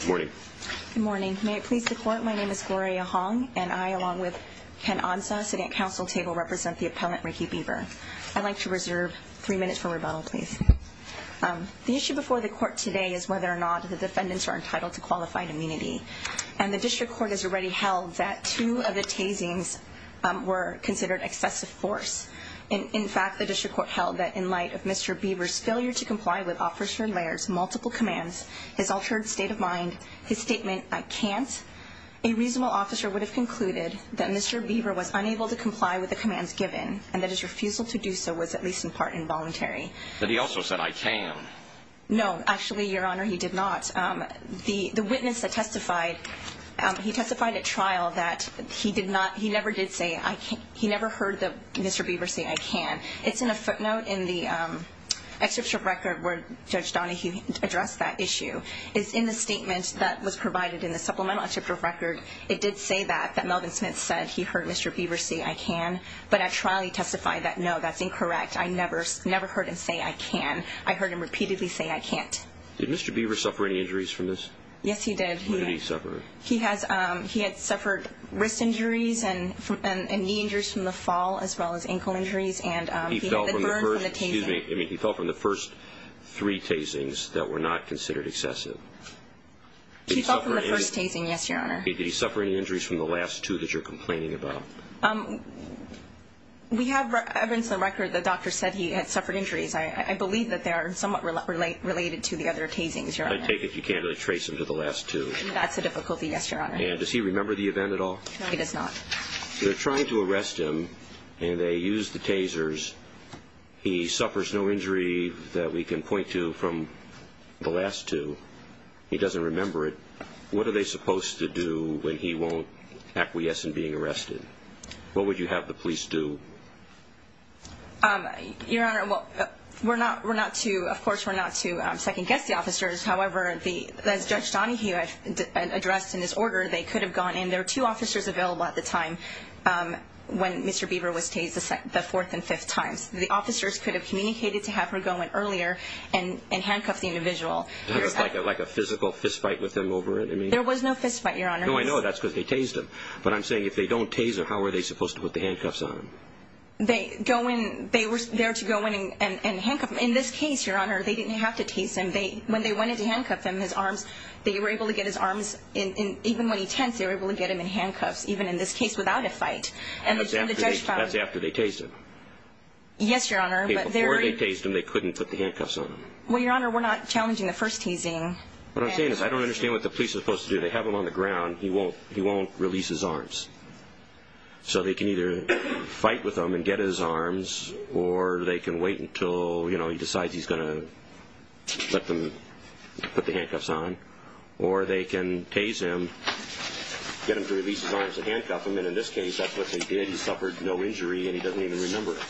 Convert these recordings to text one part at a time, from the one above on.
Good morning. Good morning. May it please the court, my name is Gloria Hong and I, along with Ken Ansah, sitting at council table, represent the appellant Ricky Beaver. I'd like to reserve three minutes for rebuttal, please. The issue before the court today is whether or not the defendants are entitled to qualified immunity. And the district court has already held that two of the tasings were considered excessive force. In fact, the district court held that in light of Mr. Beaver's failure to comply with Officer Laird's multiple commands, his altered state of mind, his statement, I can't, a reasonable officer would have concluded that Mr. Beaver was unable to comply with the commands given and that his refusal to do so was at least in part involuntary. But he also said I can. No, actually, your honor, he did not. The witness that testified, he testified at trial that he never did say, he never heard Mr. Beaver say I can. It's in a footnote in the excerpt of record where Judge Donahue addressed that issue. It's in the statement that was provided in the supplemental excerpt of record, it did say that, that Melvin Smith said he heard Mr. Beaver say I can. But at trial he testified that no, that's incorrect. I never heard him say I can. I heard him repeatedly say I can't. Did Mr. Beaver suffer any injuries from this? Yes, he did. What did he suffer? He had suffered wrist injuries and knee injuries from the fall as well as ankle injuries. He fell from the first three tasings that were not considered excessive. He fell from the first tasing, yes, your honor. Did he suffer any injuries from the last two that you're complaining about? We have evidence in the record that the doctor said he had suffered injuries. I believe that they are somewhat related to the other tasings, your honor. I take it you can't really trace them to the last two? That's a difficulty, yes, your honor. And does he remember the event at all? He does not. They're trying to arrest him and they use the tasers. He suffers no injury that we can point to from the last two. He doesn't remember it. What are they supposed to do when he won't acquiesce in being arrested? What would you have the police do? Your honor, of course we're not to second-guess the officers. However, as Judge Donahue addressed in his order, they could have gone in. There were two officers available at the time when Mr. Beaver was tased the fourth and fifth times. The officers could have communicated to have her go in earlier and handcuff the individual. Like a physical fistfight with him over it? There was no fistfight, your honor. No, I know. That's because they tased him. But I'm saying if they don't tase him, how are they supposed to put the handcuffs on him? They were there to go in and handcuff him. In this case, your honor, they didn't have to tase him. When they went in to handcuff him, his arms, they were able to get his arms. Even when he tensed, they were able to get him in handcuffs, even in this case without a fight. That's after they tased him? Yes, your honor. Before they tased him, they couldn't put the handcuffs on him? Well, your honor, we're not challenging the first tasing. What I'm saying is I don't understand what the police are supposed to do. They have him on the ground. He won't release his arms. So they can either fight with him and get his arms, or they can wait until he decides he's going to put the handcuffs on, or they can tase him, get him to release his arms and handcuff him, and in this case, that's what they did. He suffered no injury, and he doesn't even remember it.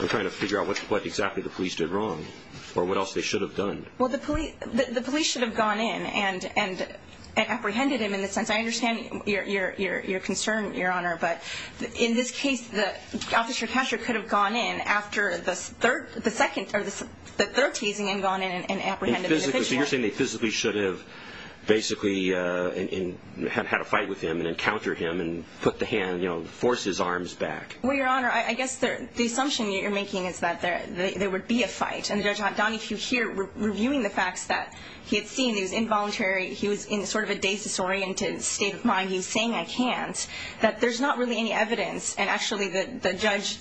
I'm trying to figure out what exactly the police did wrong, or what else they should have done. Well, the police should have gone in and apprehended him in the sense, I understand your concern, your honor, but in this case, Officer Kasher could have gone in after the third tasing and gone in and apprehended the official. So you're saying they physically should have basically had a fight with him and encountered him and put the hand, you know, forced his arms back. Well, your honor, I guess the assumption you're making is that there would be a fight, and Judge Donahue here, reviewing the facts that he had seen, he was involuntary, he was in sort of a dazed, disoriented state of mind. He was saying, I can't, that there's not really any evidence, and actually the judge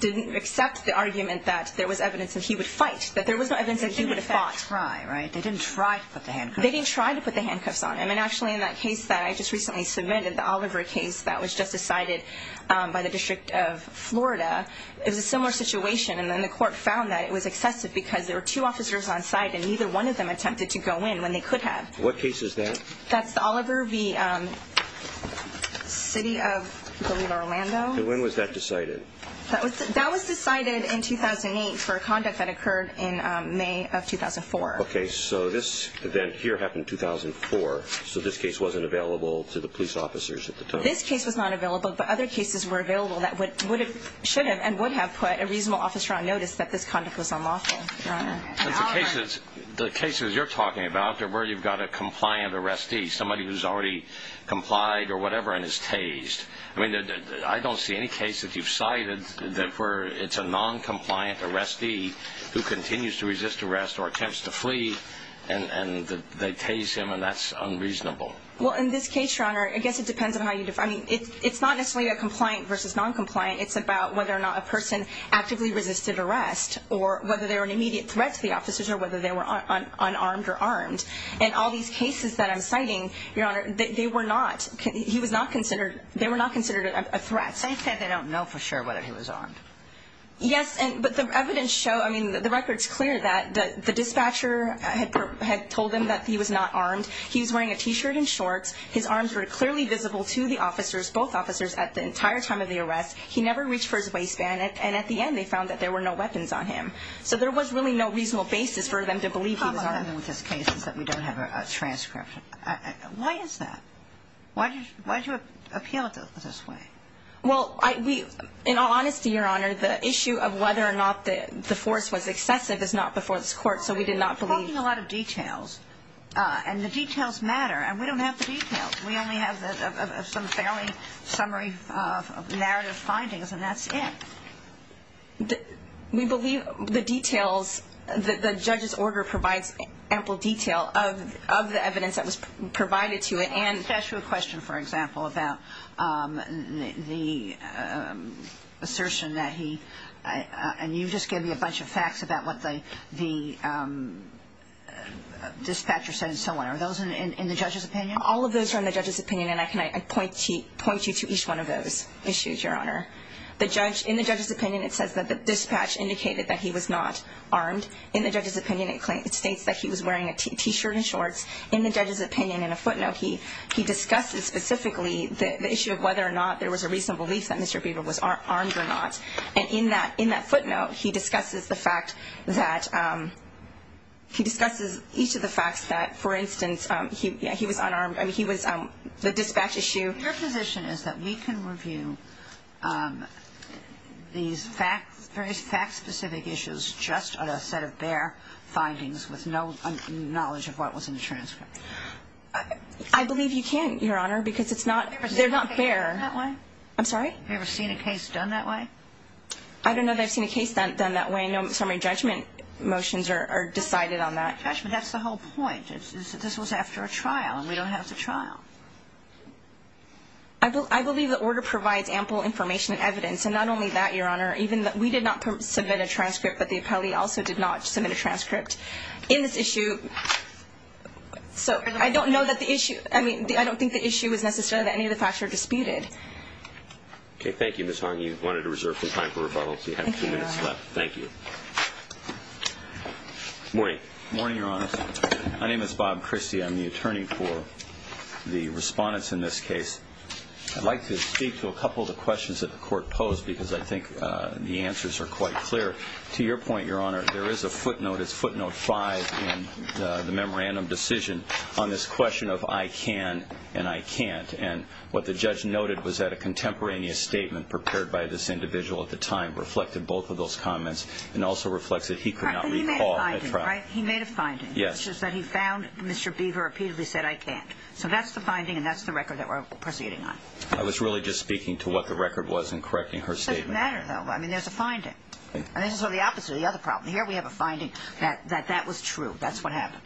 didn't accept the argument that there was evidence that he would fight, that there was no evidence that he would have fought. They didn't in fact try, right? They didn't try to put the handcuffs on. They didn't try to put the handcuffs on. I mean, actually, in that case that I just recently submitted, the Oliver case that was just decided by the District of Florida, it was a similar situation, and then the court found that it was excessive because there were two officers on site and neither one of them attempted to go in when they could have. What case is that? That's the Oliver v. City of Toledo, Orlando. And when was that decided? That was decided in 2008 for a conduct that occurred in May of 2004. Okay, so this event here happened in 2004, so this case wasn't available to the police officers at the time. This case was not available, but other cases were available that should have and would have put a reasonable officer on notice that this conduct was unlawful, Your Honor. The cases you're talking about are where you've got a compliant arrestee, somebody who's already complied or whatever and is tased. I mean, I don't see any case that you've cited where it's a noncompliant arrestee who continues to resist arrest or attempts to flee, and they tase him, and that's unreasonable. Well, in this case, Your Honor, I guess it depends on how you define it. It's not necessarily a compliant versus noncompliant. It's about whether or not a person actively resisted arrest or whether they were an immediate threat to the officers or whether they were unarmed or armed. In all these cases that I'm citing, Your Honor, they were not considered a threat. They said they don't know for sure whether he was armed. Yes, but the evidence shows, I mean, the record's clear that the dispatcher had told them that he was not armed. He was wearing a T-shirt and shorts. His arms were clearly visible to the officers, both officers, at the entire time of the arrest. He never reached for his waistband, and at the end they found that there were no weapons on him. So there was really no reasonable basis for them to believe he was armed. The problem with this case is that we don't have a transcript. Why is that? Why did you appeal it this way? Well, in all honesty, Your Honor, the issue of whether or not the force was excessive is not before this Court, so we did not believe. You're talking a lot of details, and the details matter, and we don't have the details. We only have some fairly summary of narrative findings, and that's it. We believe the details, the judge's order provides ample detail of the evidence that was provided to it. Can I ask you a question, for example, about the assertion that he and you just gave me a bunch of facts about what the dispatcher said and so on. Are those in the judge's opinion? All of those are in the judge's opinion, and I point you to each one of those issues, Your Honor. In the judge's opinion, it says that the dispatcher indicated that he was not armed. In the judge's opinion, it states that he was wearing a T-shirt and shorts. In the judge's opinion, in a footnote, he discusses specifically the issue of whether or not there was a reasonable belief that Mr. Bieber was armed or not. And in that footnote, he discusses the fact that he discusses each of the facts that, for instance, he was unarmed. I mean, he was the dispatch issue. Your position is that we can review these very fact-specific issues just on a set of bare findings with no knowledge of what was in the transcript? I believe you can, Your Honor, because it's not fair. Have you ever seen a case done that way? I'm sorry? Have you ever seen a case done that way? I don't know that I've seen a case done that way. No summary judgment motions are decided on that. Judge, but that's the whole point. This was after a trial, and we don't have the trial. I believe the order provides ample information and evidence. And not only that, Your Honor, we did not submit a transcript, but the appellee also did not submit a transcript in this issue. So I don't know that the issue – I mean, I don't think the issue is necessarily that any of the facts were disputed. Okay. Thank you, Ms. Hong. You wanted to reserve some time for rebuttal, so you have two minutes left. Thank you, Your Honor. Thank you. Morning. Morning, Your Honor. My name is Bob Christie. I'm the attorney for the respondents in this case. I'd like to speak to a couple of the questions that the court posed because I think the answers are quite clear. To your point, Your Honor, there is a footnote. It's footnote 5 in the memorandum decision on this question of, I can and I can't. And what the judge noted was that a contemporaneous statement prepared by this individual at the time reflected both of those comments and also reflects that he could not recall a trial. He made a finding, right? He made a finding. Yes. Which is that he found Mr. Beaver repeatedly said, I can't. So that's the finding, and that's the record that we're proceeding on. I was really just speaking to what the record was in correcting her statement. It doesn't matter, though. I mean, there's a finding. And this is sort of the opposite of the other problem. Here we have a finding that that was true. That's what happened.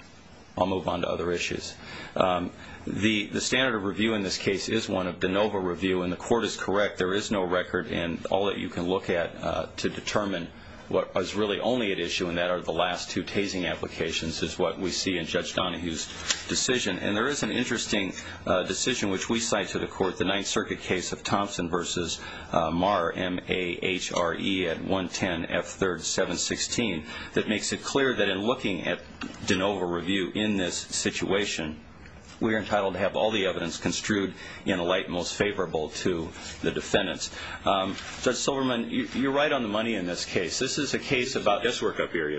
I'll move on to other issues. The standard of review in this case is one of de novo review, and the court is correct. There is no record, and all that you can look at to determine what was really only at issue in that are the last two tasing applications is what we see in Judge Donahue's decision. And there is an interesting decision which we cite to the court, the Ninth Circuit case of Thompson versus Marr, M-A-H-R-E, at 110 F3rd 716, that makes it clear that in looking at de novo review in this situation, we are entitled to have all the evidence construed in a light most favorable to the defendants. Judge Silverman, you're right on the money in this case. This is a case about 37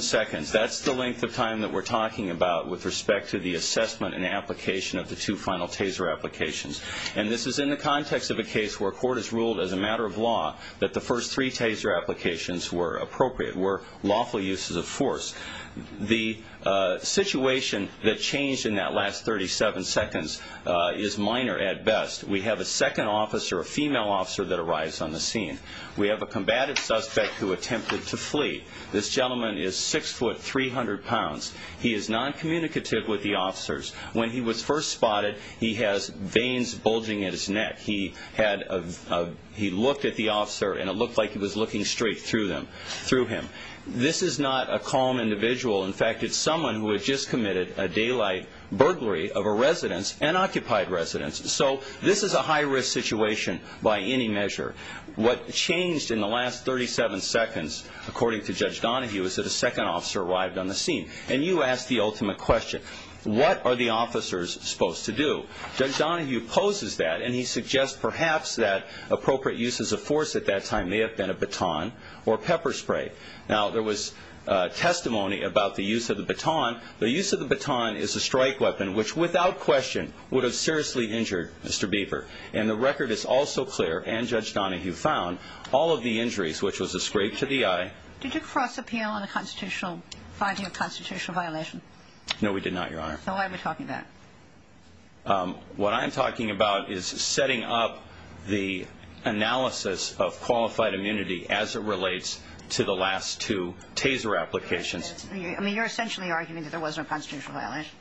seconds. That's the length of time that we're talking about with respect to the assessment and application of the two final taser applications. And this is in the context of a case where a court has ruled as a matter of law that the first three taser applications were appropriate, were lawful uses of force. The situation that changed in that last 37 seconds is minor at best. We have a second officer, a female officer, that arrives on the scene. We have a combated suspect who attempted to flee. This gentleman is 6 foot 300 pounds. He is noncommunicative with the officers. When he was first spotted, he has veins bulging at his neck. He looked at the officer, and it looked like he was looking straight through him. This is not a calm individual. In fact, it's someone who had just committed a daylight burglary of a residence, an occupied residence. So this is a high-risk situation by any measure. What changed in the last 37 seconds, according to Judge Donahue, is that a second officer arrived on the scene. And you asked the ultimate question. What are the officers supposed to do? Judge Donahue poses that, and he suggests perhaps that appropriate uses of force at that time may have been a baton or pepper spray. Now, there was testimony about the use of the baton. The use of the baton is a strike weapon which, without question, would have seriously injured Mr. Beaver. And the record is also clear, and Judge Donahue found, all of the injuries, which was a scrape to the eye. Did you cross-appeal on the finding of constitutional violation? No, we did not, Your Honor. So why are we talking about it? What I am talking about is setting up the analysis of qualified immunity as it relates to the last two TASER applications. I mean, you're essentially arguing that there wasn't a constitutional violation.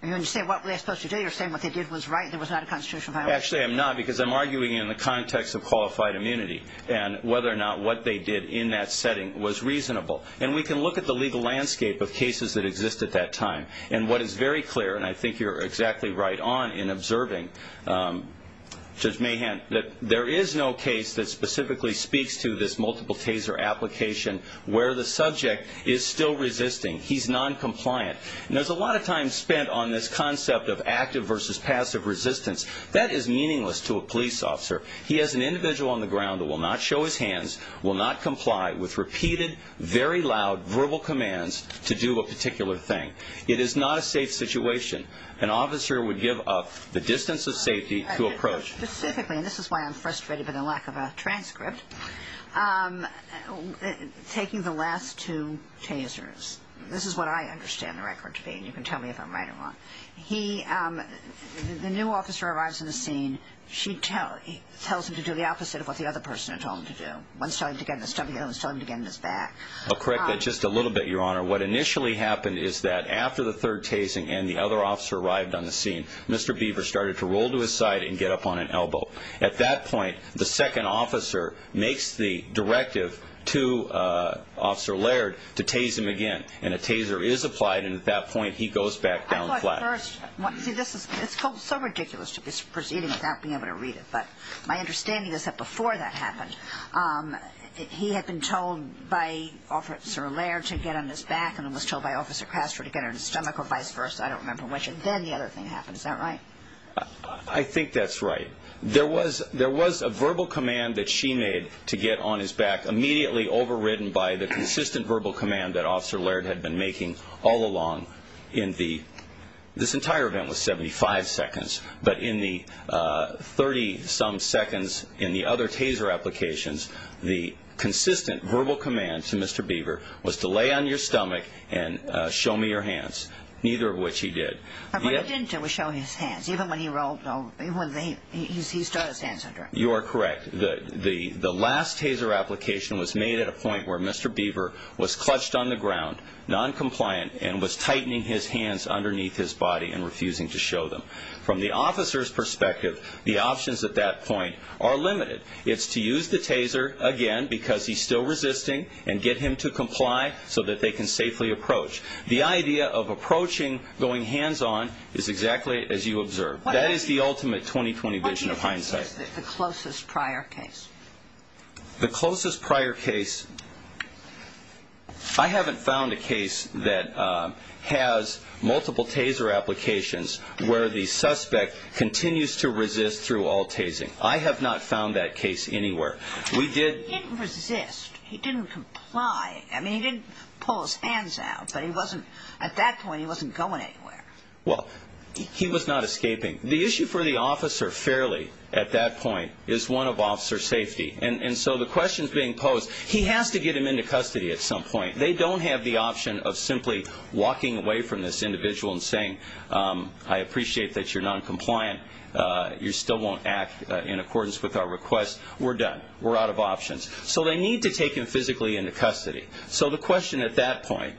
And when you say what were they supposed to do, you're saying what they did was right and there was not a constitutional violation. Actually, I'm not, because I'm arguing in the context of qualified immunity and whether or not what they did in that setting was reasonable. And we can look at the legal landscape of cases that exist at that time. And what is very clear, and I think you're exactly right on in observing, Judge Mahan, that there is no case that specifically speaks to this multiple TASER application where the subject is still resisting. He's noncompliant. And there's a lot of time spent on this concept of active versus passive resistance. That is meaningless to a police officer. He is an individual on the ground that will not show his hands, will not comply with repeated, very loud verbal commands to do a particular thing. It is not a safe situation. An officer would give up the distance of safety to approach. Specifically, and this is why I'm frustrated by the lack of a transcript, taking the last two TASERs. This is what I understand the record to be, and you can tell me if I'm right or wrong. He, the new officer arrives on the scene. She tells him to do the opposite of what the other person had told him to do. One's telling him to get in the stomach, the other one's telling him to get in his back. I'll correct that just a little bit, Your Honor. What initially happened is that after the third TASER and the other officer arrived on the scene, Mr. Beaver started to roll to his side and get up on an elbow. At that point, the second officer makes the directive to Officer Laird to TASER him again. And a TASER is applied, and at that point he goes back down flat. I thought first, see this is, it's so ridiculous to be proceeding without being able to read it. But my understanding is that before that happened, he had been told by Officer Laird to get on his back and was told by Officer Castro to get on his stomach or vice versa. I don't remember which. And then the other thing happened. Is that right? I think that's right. There was a verbal command that she made to get on his back immediately overridden by the consistent verbal command that Officer Laird had been making all along. This entire event was 75 seconds, but in the 30-some seconds in the other TASER applications, the consistent verbal command to Mr. Beaver was to lay on your stomach and show me your hands, neither of which he did. But he didn't show his hands, even when he started his hands under him. You are correct. The last TASER application was made at a point where Mr. Beaver was clutched on the ground, noncompliant, and was tightening his hands underneath his body and refusing to show them. From the officer's perspective, the options at that point are limited. It's to use the TASER again because he's still resisting and get him to comply so that they can safely approach. The idea of approaching going hands-on is exactly as you observed. That is the ultimate 20-20 vision of hindsight. What do you think is the closest prior case? The closest prior case, I haven't found a case that has multiple TASER applications where the suspect continues to resist through all TASING. I have not found that case anywhere. He didn't resist. He didn't comply. I mean, he didn't pull his hands out, but at that point he wasn't going anywhere. Well, he was not escaping. The issue for the officer fairly at that point is one of officer safety. And so the questions being posed, he has to get him into custody at some point. They don't have the option of simply walking away from this individual and saying, I appreciate that you're noncompliant. You still won't act in accordance with our request. We're done. We're out of options. So they need to take him physically into custody. So the question at that point,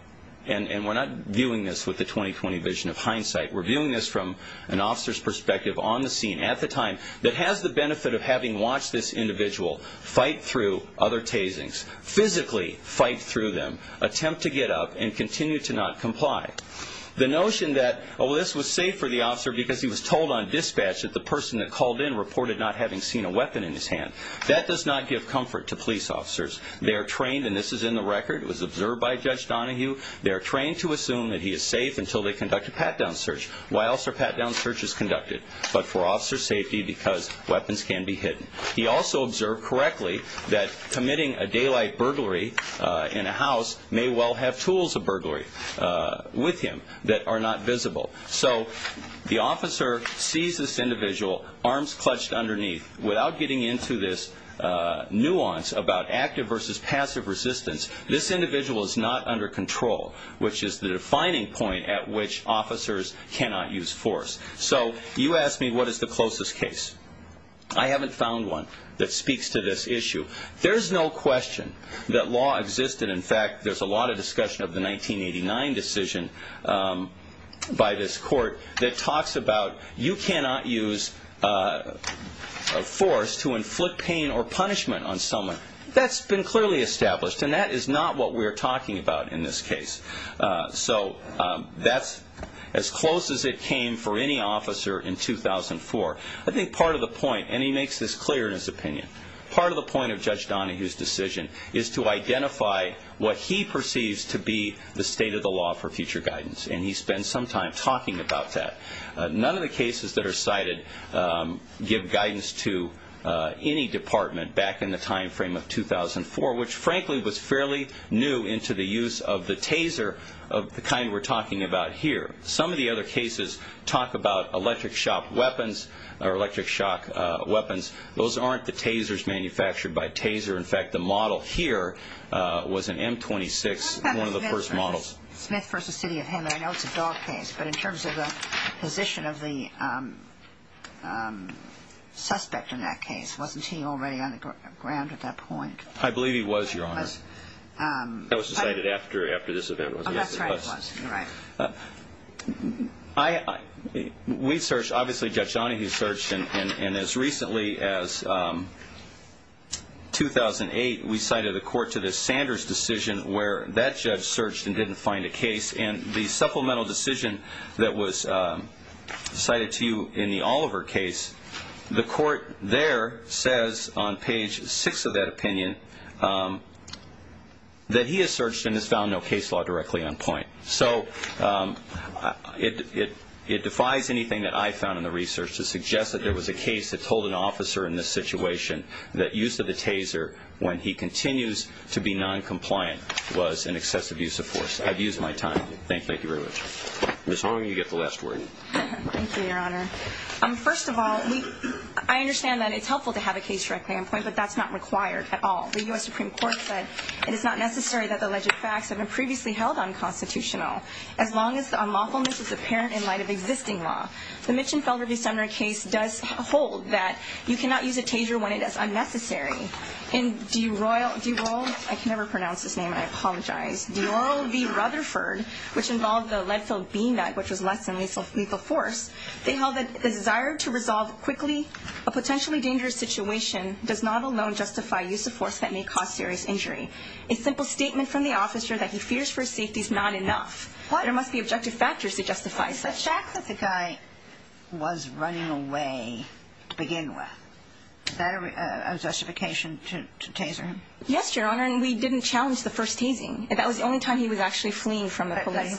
and we're not viewing this with the 20-20 vision of hindsight. We're viewing this from an officer's perspective on the scene at the time that has the benefit of having watched this individual fight through other TASINGS, physically fight through them, attempt to get up, and continue to not comply. The notion that, oh, this was safe for the officer because he was told on dispatch that the person that called in reported not having seen a weapon in his hand, that does not give comfort to police officers. They are trained, and this is in the record. It was observed by Judge Donahue. They are trained to assume that he is safe until they conduct a pat-down search. Why else are pat-down searches conducted? But for officer safety because weapons can be hidden. He also observed correctly that committing a daylight burglary in a house may well have tools of burglary with him that are not visible. So the officer sees this individual, arms clutched underneath. Without getting into this nuance about active versus passive resistance, this individual is not under control, which is the defining point at which officers cannot use force. So you ask me what is the closest case. I haven't found one that speaks to this issue. There is no question that law existed. In fact, there is a lot of discussion of the 1989 decision by this court that talks about you cannot use force to inflict pain or punishment on someone. That has been clearly established, and that is not what we are talking about in this case. So that is as close as it came for any officer in 2004. I think part of the point, and he makes this clear in his opinion, part of the point of Judge Donahue's decision is to identify what he perceives to be the state of the law for future guidance, and he spends some time talking about that. None of the cases that are cited give guidance to any department back in the time frame of 2004, which frankly was fairly new into the use of the taser of the kind we're talking about here. Some of the other cases talk about electric shock weapons. Those aren't the tasers manufactured by taser. In fact, the model here was an M-26, one of the first models. What about Smith v. City of Hammond? I know it's a dog case, but in terms of the position of the suspect in that case, wasn't he already on the ground at that point? I believe he was, Your Honor. That was decided after this event. Oh, that's right. We searched, obviously Judge Donahue searched, and as recently as 2008 we cited a court to the Sanders decision where that judge searched and didn't find a case, and the supplemental decision that was cited to you in the Oliver case, the court there says on page 6 of that opinion that he has searched and has found no case law directly on point. So it defies anything that I found in the research to suggest that there was a case that told an officer in this situation that use of the taser when he continues to be noncompliant was an excessive use of force. I've used my time. Thank you very much. Ms. Horne, you get the last word. Thank you, Your Honor. First of all, I understand that it's helpful to have a case directly on point, but that's not required at all. The U.S. Supreme Court said it is not necessary that the alleged facts have been previously held unconstitutional, as long as the unlawfulness is apparent in light of existing law. The Mitchenfelder v. Sumner case does hold that you cannot use a taser when it is unnecessary. In DeRoyal, I can never pronounce his name, I apologize, DeRoyal v. Rutherford, which involved the lead-filled bean bag, which was less than lethal force. They held that the desire to resolve quickly a potentially dangerous situation does not alone justify use of force that may cause serious injury. A simple statement from the officer that he fears for his safety is not enough. What? There must be objective factors to justify such. The fact that the guy was running away to begin with, is that a justification to taser him? Yes, Your Honor, and we didn't challenge the first tasing. That was the only time he was actually fleeing from a police.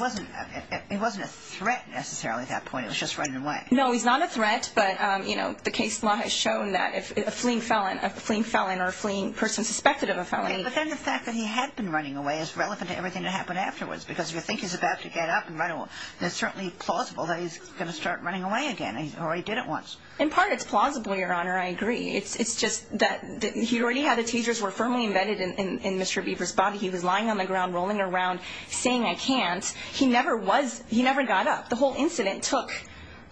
He wasn't a threat, necessarily, at that point. He was just running away. No, he's not a threat, but, you know, the case law has shown that if a fleeing felon, a fleeing felon or a fleeing person suspected of a felony. But then the fact that he had been running away is relevant to everything that happened afterwards, because if you think he's about to get up and run away, it's certainly plausible that he's going to start running away again, or he did it once. In part, it's plausible, Your Honor, I agree. It's just that he already had the tasers were firmly embedded in Mr. Beaver's body. He was lying on the ground, rolling around, saying, I can't. He never was, he never got up. The whole incident took,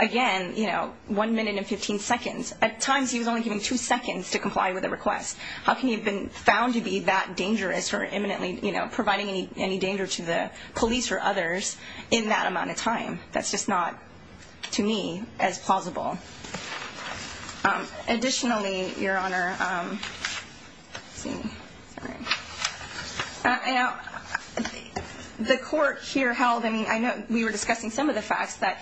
again, you know, one minute and 15 seconds. At times, he was only given two seconds to comply with a request. How can he have been found to be that dangerous for imminently, you know, providing any danger to the police or others in that amount of time? That's just not, to me, as plausible. Additionally, Your Honor, the court here held, I mean, I know we were discussing some of the facts that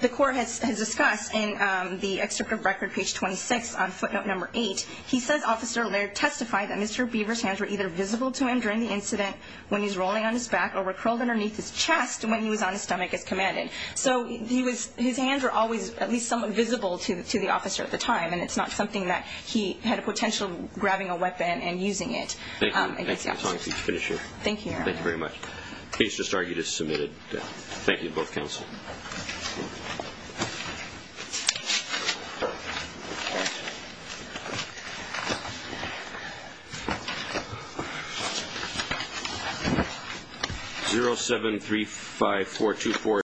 the court has discussed in the excerpt of record, page 26, on footnote number 8. He says, Officer Laird testified that Mr. Beaver's hands were either visible to him during the incident when he was rolling on his back or were curled underneath his chest when he was on his stomach as commanded. So his hands were always at least somewhat visible to the officer at the time, and it's not something that he had a potential grabbing a weapon and using it against the officers. Thank you, Your Honor. Thank you very much. The case just argued is submitted. Thank you to both counsel. Thank you.